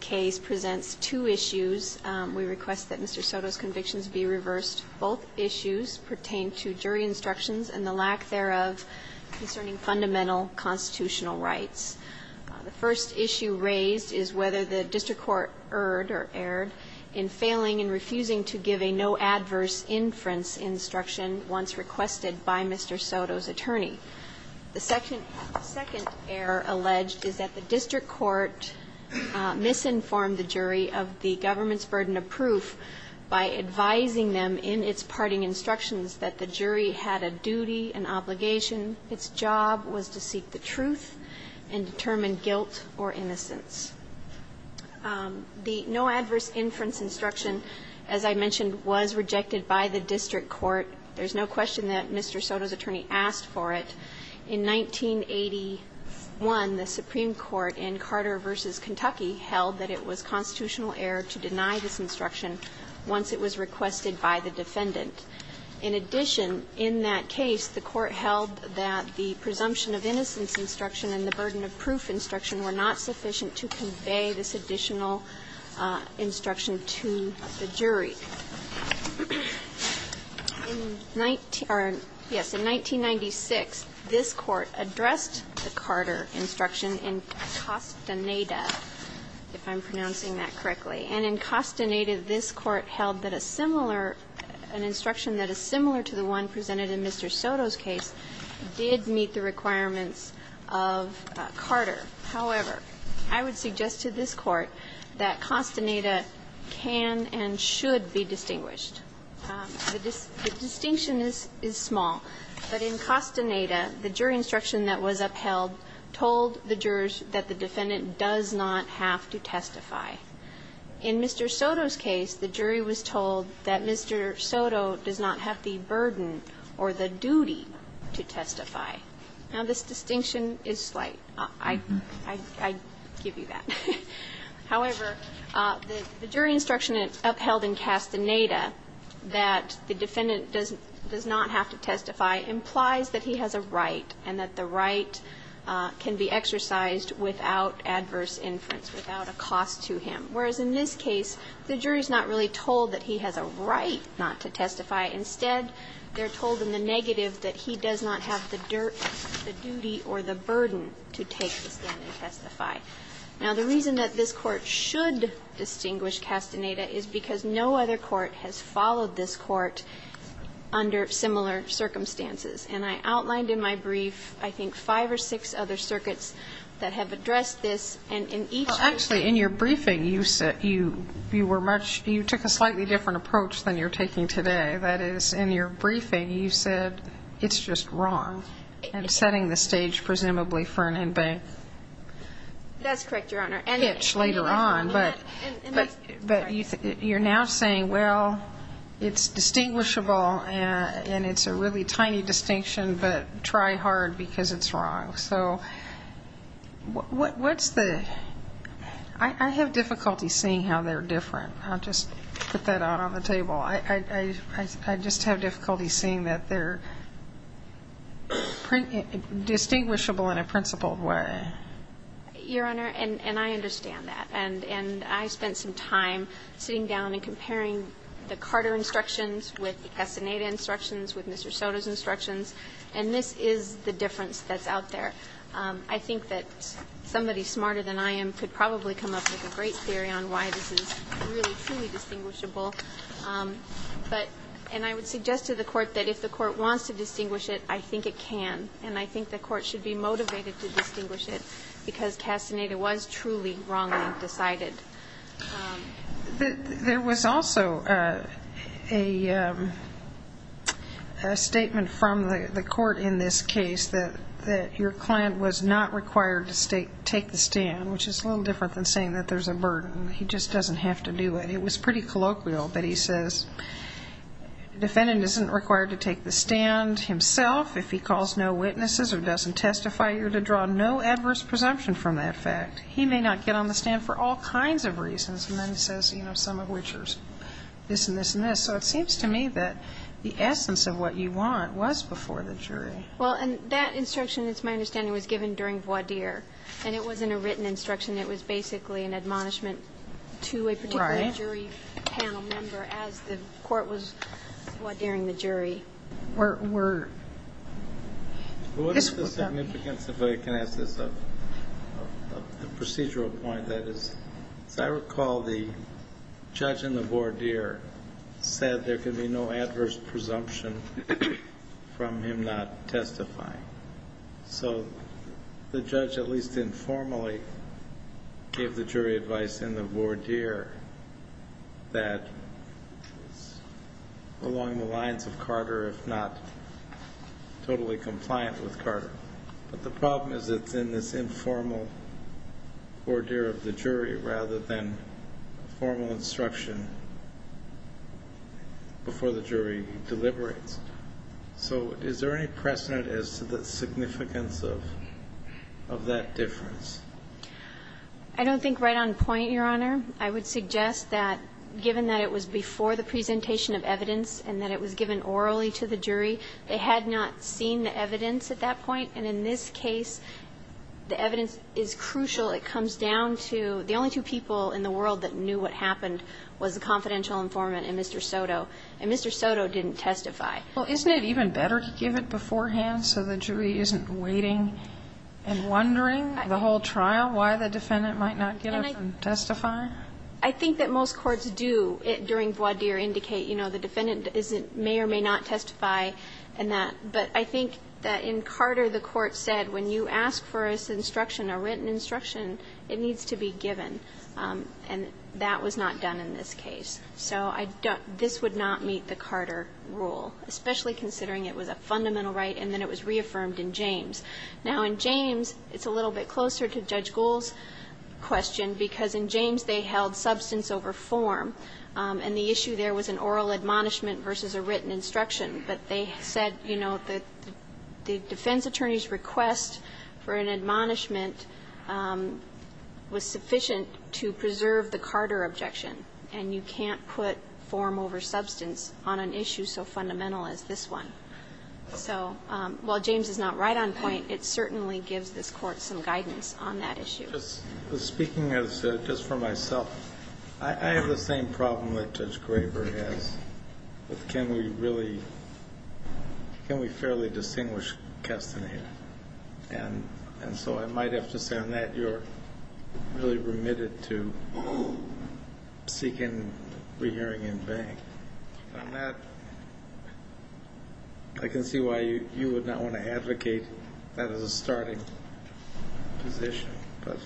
case presents two issues. We request that Mr. Soto's convictions be reversed. Both issues pertain to jury instructions and the lack thereof concerning fundamental constitutional rights. The first issue raised is whether the district court erred or erred in failing and refusing to give a no-adverse inference instruction once requested by Mr. Soto's attorney. The second error alleged is that the district court misinformed the jury of the government's burden of proof by advising them in its parting instructions that the jury had a duty, an obligation. Its job was to seek the truth and determine guilt or innocence. The no-adverse inference instruction, as I mentioned, was rejected by the district court. There's no question that Mr. Soto's attorney asked for it. In 1981, the Supreme Court in Carter v. Kentucky held that it was constitutional error to deny this instruction once it was requested by the defendant. In addition, in that case, the Court held that the presumption of innocence instruction and the burden of proof instruction were not sufficient to convey this additional instruction to the jury. In 19 or, yes, in 1996, the Supreme Court this Court addressed the Carter instruction in Castaneda, if I'm pronouncing that correctly. And in Castaneda, this Court held that a similar, an instruction that is similar to the one presented in Mr. Soto's case did meet the requirements of Carter. However, I would suggest to this Court that Castaneda can and should be distinguished. The distinction is small, but in Castaneda, the jury instruction that was upheld told the jurors that the defendant does not have to testify. In Mr. Soto's case, the jury was told that Mr. Soto does not have the burden or the duty to testify. Now, this distinction is slight. I give you that. However, the jury instruction upheld in Castaneda that the defendant does not have to testify implies that he has a right and that the right can be exercised without adverse inference, without a cost to him. Whereas in this case, the jury is not really told that he has a right not to testify. Instead, they're told in the negative that he does not have the dirt, the duty, or the burden to take the stand and testify. Now, the reason that this Court should distinguish Castaneda is because no other court has followed this Court under similar circumstances. And I outlined in my brief, I think, five or six other circuits that have addressed this. And in each of those cases… Well, actually, in your briefing, you were much… you took a slightly different approach than you're taking today. That is, in your briefing, you said, it's just wrong, and setting the stage, presumably, for an inbank. That's correct, Your Honor. Hitch later on. But you're now saying, well, it's distinguishable, and it's a really tiny distinction, but try hard because it's wrong. So what's the… I have difficulty seeing how they're different. I'll just put that out on the table. I just have difficulty seeing that they're distinguishable in a principled way. Your Honor, and I understand that. And I spent some time sitting down and comparing the Carter instructions with the Castaneda instructions, with Mr. Soto's instructions, and this is the difference that's out there. I think that somebody smarter than I am could probably come up with a great theory on why this is really, truly distinguishable. And I would suggest to the Court that if the Court wants to distinguish it, I think it can. And I think the Court should be motivated to distinguish it because Castaneda was truly wrongly decided. There was also a statement from the Court in this case that your client was not required to take the stand, which is a little different than saying that there's a burden. He just doesn't have to do it. It was pretty colloquial, but he says the defendant isn't required to take the stand himself if he calls no witnesses or doesn't testify or to draw no adverse presumption from that fact. He may not get on the stand for all kinds of reasons. And then he says, you know, some of which are this and this and this. So it seems to me that the essence of what you want was before the jury. Well, and that instruction, it's my understanding, was given during voir dire, and it wasn't a written instruction. It was basically an admonishment to a particular jury panel member as the Court was voir dire-ing the jury. What's the significance, if I can ask this, of the procedural point? As I recall, the judge in the voir dire said there could be no adverse presumption from him not testifying. So the judge at least informally gave the jury advice in the voir dire that it's along the lines of Carter, if not totally compliant with Carter. But the problem is it's in this informal voir dire of the jury rather than formal instruction before the jury deliberates. So is there any precedent as to the significance of that difference? I don't think right on point, Your Honor. I would suggest that given that it was before the presentation of evidence and that it was given orally to the jury, they had not seen the evidence at that point. And in this case, the evidence is crucial. It comes down to the only two people in the world that knew what happened was the confidential informant and Mr. Soto, and Mr. Soto didn't testify. Well, isn't it even better to give it beforehand so the jury isn't waiting and wondering the whole trial why the defendant might not get up and testify? I think that most courts do during voir dire indicate, you know, the defendant may or may not testify in that. But I think that in Carter, the court said, when you ask for instruction or written instruction, it needs to be given. And that was not done in this case. So I don't – this would not meet the Carter rule, especially considering it was a fundamental right and then it was reaffirmed in James. Now, in James, it's a little bit closer to Judge Gould's question because in James they held substance over form, and the issue there was an oral admonishment versus a written instruction. But they said, you know, the defense attorney's request for an admonishment was sufficient to preserve the Carter objection. And you can't put form over substance on an issue so fundamental as this one. So while James is not right on point, it certainly gives this Court some guidance on that issue. Just speaking as – just for myself, I have the same problem that Judge Graber has with can we really – can we fairly distinguish Castaneda? And so I might have to say on that, that you're really remitted to seeking rehearing in vain. On that, I can see why you would not want to advocate that as a starting position. But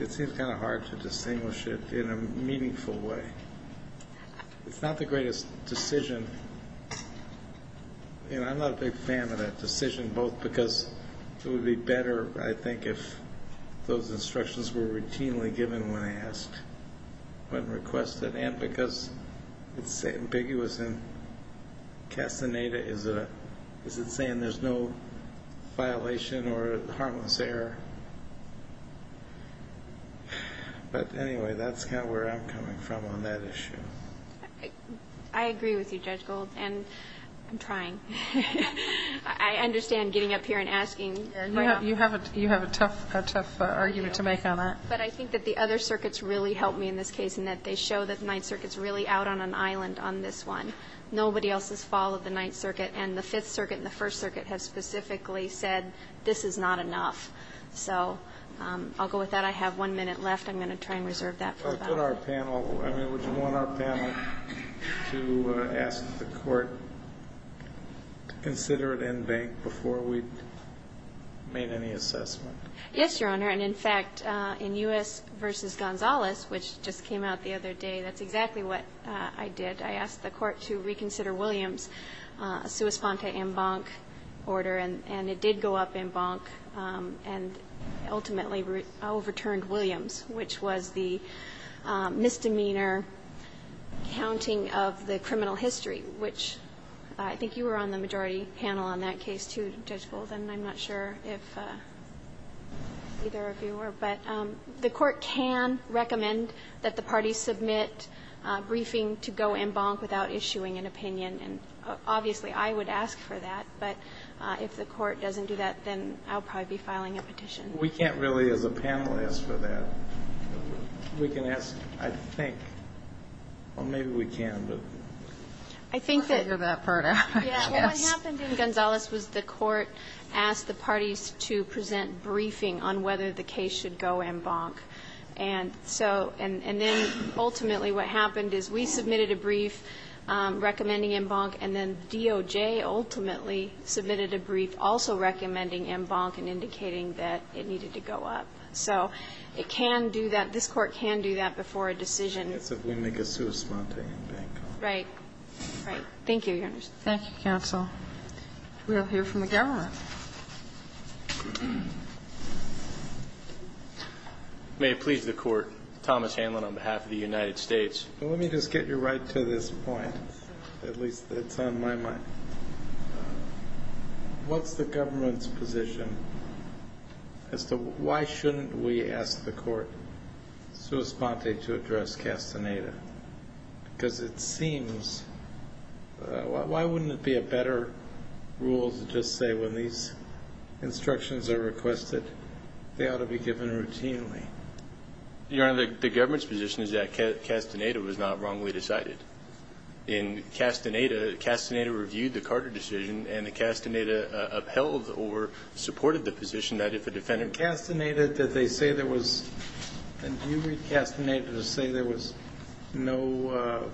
it seems kind of hard to distinguish it in a meaningful way. It's not the greatest decision, and I'm not a big fan of that decision both because it would be better, I think, if those instructions were routinely given when asked, when requested, and because it's ambiguous in Castaneda. Is it saying there's no violation or harmless error? But anyway, that's kind of where I'm coming from on that issue. I understand getting up here and asking. You have a tough argument to make on that. But I think that the other circuits really helped me in this case in that they show that the Ninth Circuit's really out on an island on this one. Nobody else has followed the Ninth Circuit, and the Fifth Circuit and the First Circuit have specifically said this is not enough. So I'll go with that. I have one minute left. I'm going to try and reserve that for about a minute. I mean, would you want our panel to ask the Court to consider it en banc before we've made any assessment? Yes, Your Honor. And, in fact, in U.S. v. Gonzales, which just came out the other day, that's exactly what I did. I asked the Court to reconsider Williams' sua sponte en banc order, and it did go up en banc and ultimately overturned Williams, which was the misdemeanor counting of the criminal history, which I think you were on the majority panel on that case, too, Judge Golden. I'm not sure if either of you were. But the Court can recommend that the parties submit a briefing to go en banc without issuing an opinion, and obviously I would ask for that. But if the Court doesn't do that, then I'll probably be filing a petition. We can't really, as a panel, ask for that. We can ask, I think. Well, maybe we can, but we'll figure that part out. Yes. Well, what happened in Gonzales was the Court asked the parties to present briefing on whether the case should go en banc. And then ultimately what happened is we submitted a brief recommending en banc, and then DOJ ultimately submitted a brief also recommending en banc and indicating that it needed to go up. So it can do that. This Court can do that before a decision. That's if we make a sui sponte en banc. Right. Right. Thank you. Thank you, counsel. We'll hear from the government. May it please the Court. Thomas Hanlon on behalf of the United States. Let me just get you right to this point, at least it's on my mind. What's the government's position as to why shouldn't we ask the Court sui sponte to address Castaneda? Because it seems why wouldn't it be a better rule to just say when these instructions are requested they ought to be given routinely? Your Honor, the government's position is that Castaneda was not wrongly decided. In Castaneda, Castaneda reviewed the Carter decision, and Castaneda upheld or supported the position that if a defendant was wrongly then it would be a better rule to ask the Court to address Castaneda. Do you read Castaneda to say there was no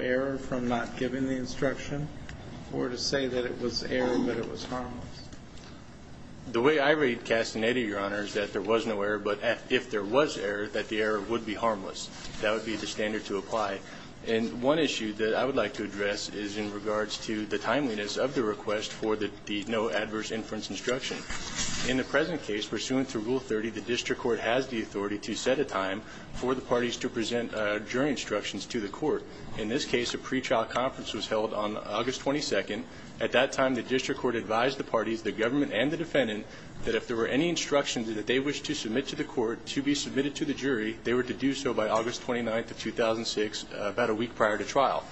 error from not giving the instruction or to say that it was error but it was harmless? The way I read Castaneda, Your Honor, is that there was no error, but if there was error, that the error would be harmless. That would be the standard to apply. And one issue that I would like to address is in regards to the timeliness of the request for the no adverse inference instruction. In the present case, pursuant to Rule 30, the district court has the authority to set a time for the parties to present jury instructions to the court. In this case, a pre-trial conference was held on August 22nd. At that time, the district court advised the parties, the government and the defendant, that if there were any instructions that they wished to submit to the court to be submitted to the jury, they were to do so by August 29th of 2006, about a week prior to trial.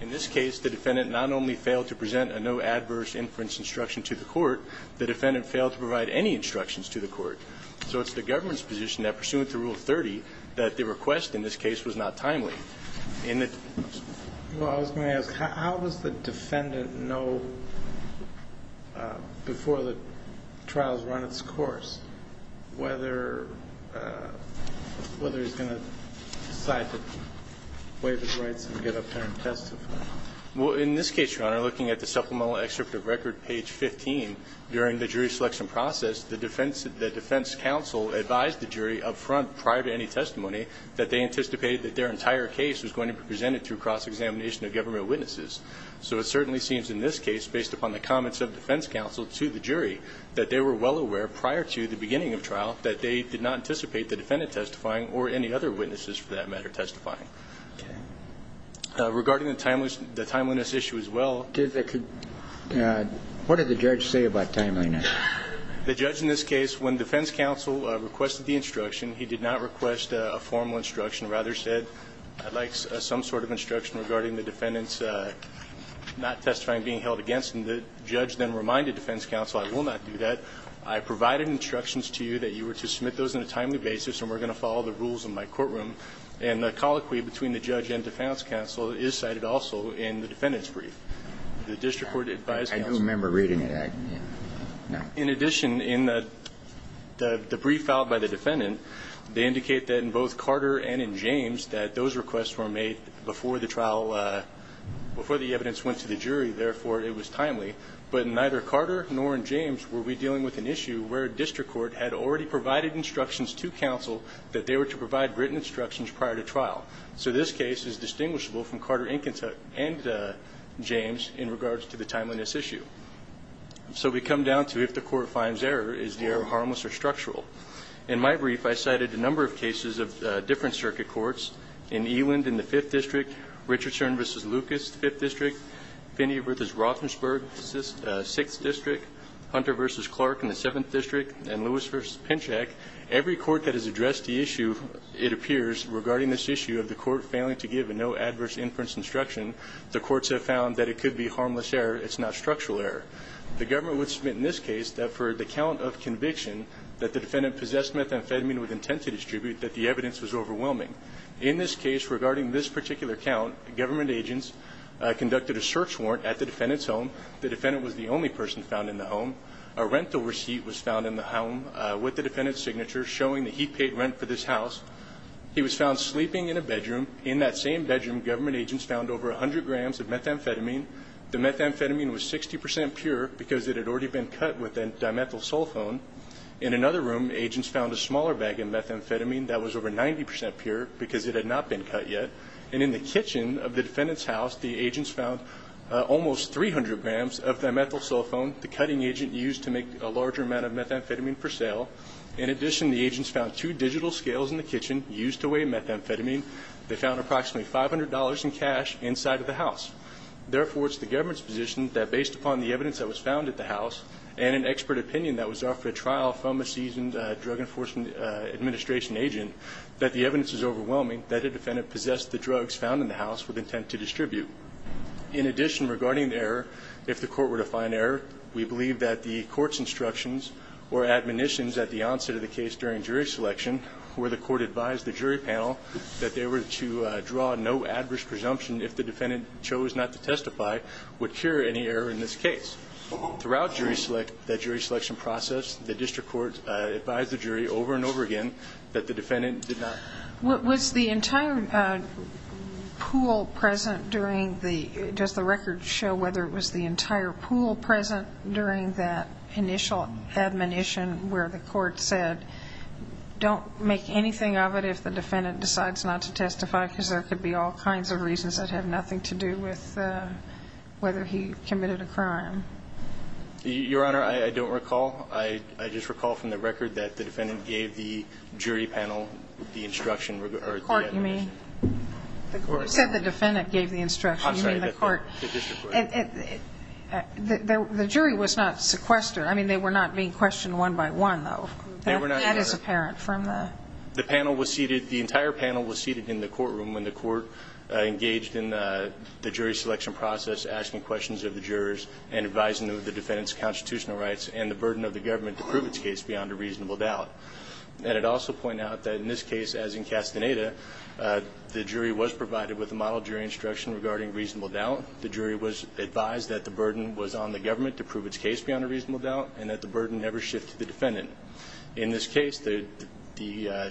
In this case, the defendant not only failed to present a no adverse inference instruction to the court, the defendant failed to provide any instructions to the court. So it's the government's position that, pursuant to Rule 30, that the request in this case was not timely. In the ---- Well, I was going to ask, how does the defendant know before the trial has run its course whether he's going to decide to waive his rights and get up there and testify? Well, in this case, Your Honor, looking at the supplemental excerpt of Record page 15, during the jury selection process, the defense counsel advised the jury up front prior to any testimony that they anticipated that their entire case was going to be presented through cross-examination of government witnesses. So it certainly seems in this case, based upon the comments of defense counsel to the jury, that they were well aware prior to the beginning of trial that they did not anticipate the defendant testifying or any other witnesses, for that matter, testifying. Okay. Regarding the timeliness issue as well ---- What did the judge say about timeliness? The judge in this case, when defense counsel requested the instruction, he did not request a formal instruction, rather said, I'd like some sort of instruction regarding the defendant's not testifying, being held against. And the judge then reminded defense counsel, I will not do that. I provided instructions to you that you were to submit those on a timely basis, and we're going to follow the rules in my courtroom. And the colloquy between the judge and defense counsel is cited also in the defendant's brief. The district court advised counsel ---- I don't remember reading that. No. In addition, in the brief filed by the defendant, they indicate that in both Carter went to the jury. Therefore, it was timely. But neither Carter nor in James were we dealing with an issue where a district court had already provided instructions to counsel that they were to provide written instructions prior to trial. So this case is distinguishable from Carter, Inkins, and James in regards to the timeliness issue. So we come down to if the court finds error, is the error harmless or structural? In my brief, I cited a number of cases of different circuit courts. In Eland, in the Fifth District, Richardson v. Lucas, Fifth District, Finney v. Roethlisberg, Sixth District, Hunter v. Clark in the Seventh District, and Lewis v. Pinchak. Every court that has addressed the issue, it appears, regarding this issue of the court failing to give a no adverse inference instruction, the courts have found that it could be harmless error. It's not structural error. The government would submit in this case that for the count of conviction that the defendant possessed methamphetamine with intent to distribute, that the evidence was overwhelming. In this case, regarding this particular count, government agents conducted a search warrant at the defendant's home. The defendant was the only person found in the home. A rental receipt was found in the home with the defendant's signature showing that he paid rent for this house. He was found sleeping in a bedroom. In that same bedroom, government agents found over 100 grams of methamphetamine. The methamphetamine was 60% pure because it had already been cut with a dimethyl sulfone. In another room, agents found a smaller bag of methamphetamine that was over 90% pure because it had not been cut yet. And in the kitchen of the defendant's house, the agents found almost 300 grams of dimethyl sulfone, the cutting agent used to make a larger amount of methamphetamine for sale. In addition, the agents found two digital scales in the kitchen used to weigh methamphetamine. They found approximately $500 in cash inside of the house. Therefore, it's the government's position that based upon the evidence that was obtained during the trial from a seasoned Drug Enforcement Administration agent, that the evidence is overwhelming that the defendant possessed the drugs found in the house with intent to distribute. In addition, regarding the error, if the court were to find error, we believe that the court's instructions or admonitions at the onset of the case during jury selection where the court advised the jury panel that they were to draw no adverse presumption if the defendant chose not to testify would cure any error in this case. Throughout jury select, the jury selection process, the district court advised the jury over and over again that the defendant did not. Was the entire pool present during the, does the record show whether it was the entire pool present during that initial admonition where the court said don't make anything of it if the defendant decides not to testify because there could be all kinds of reasons that have nothing to do with whether he committed a crime. Your Honor, I don't recall. I just recall from the record that the defendant gave the jury panel the instruction or the admonition. The court, you mean? The court. You said the defendant gave the instruction. I'm sorry, the court. The district court. The jury was not sequestered. I mean, they were not being questioned one by one, though. They were not being questioned. That is apparent from the. The panel was seated, the entire panel was seated in the courtroom when the court engaged in the jury selection process, asking questions of the jurors and advising them of the defendant's constitutional rights and the burden of the government to prove its case beyond a reasonable doubt. And it also pointed out that in this case, as in Castaneda, the jury was provided with a model jury instruction regarding reasonable doubt. The jury was advised that the burden was on the government to prove its case beyond a reasonable doubt and that the burden never shifted to the defendant. In this case, the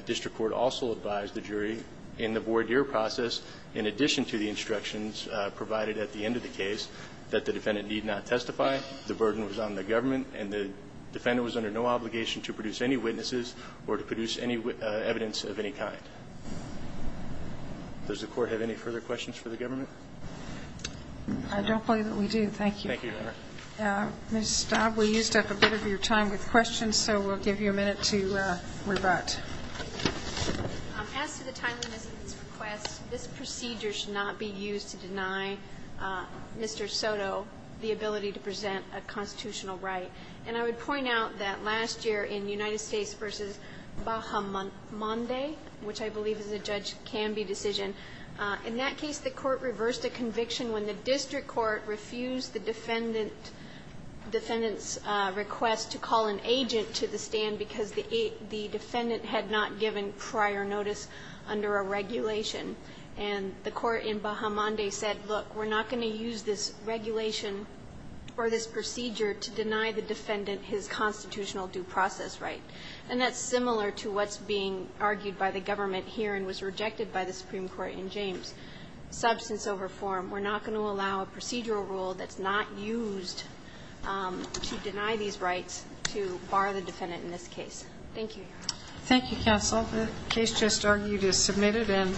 district court also advised the jury in the voir dire process, in addition to the instructions provided at the end of the case, that the defendant need not testify, the burden was on the government, and the defendant was under no obligation to produce any witnesses or to produce any evidence of any kind. Does the court have any further questions for the government? I don't believe that we do. Thank you. Thank you, Your Honor. Ms. Staub, we used up a bit of your time with questions, so we'll give you a minute to rebut. Mr. Soto, the ability to present a constitutional right. And I would point out that last year in United States v. Bahamonde, which I believe as a judge can be decision, in that case, the court reversed a conviction when the district court refused the defendant's request to call an agent to the stand because the defendant had not given prior notice under a regulation. And the court in Bahamonde said, look, we're not going to use this regulation or this procedure to deny the defendant his constitutional due process right. And that's similar to what's being argued by the government here and was rejected by the Supreme Court in James, substance over form. We're not going to allow a procedural rule that's not used to deny these rights to bar the defendant in this case. Thank you, Your Honor. Thank you, counsel. The case just argued is submitted.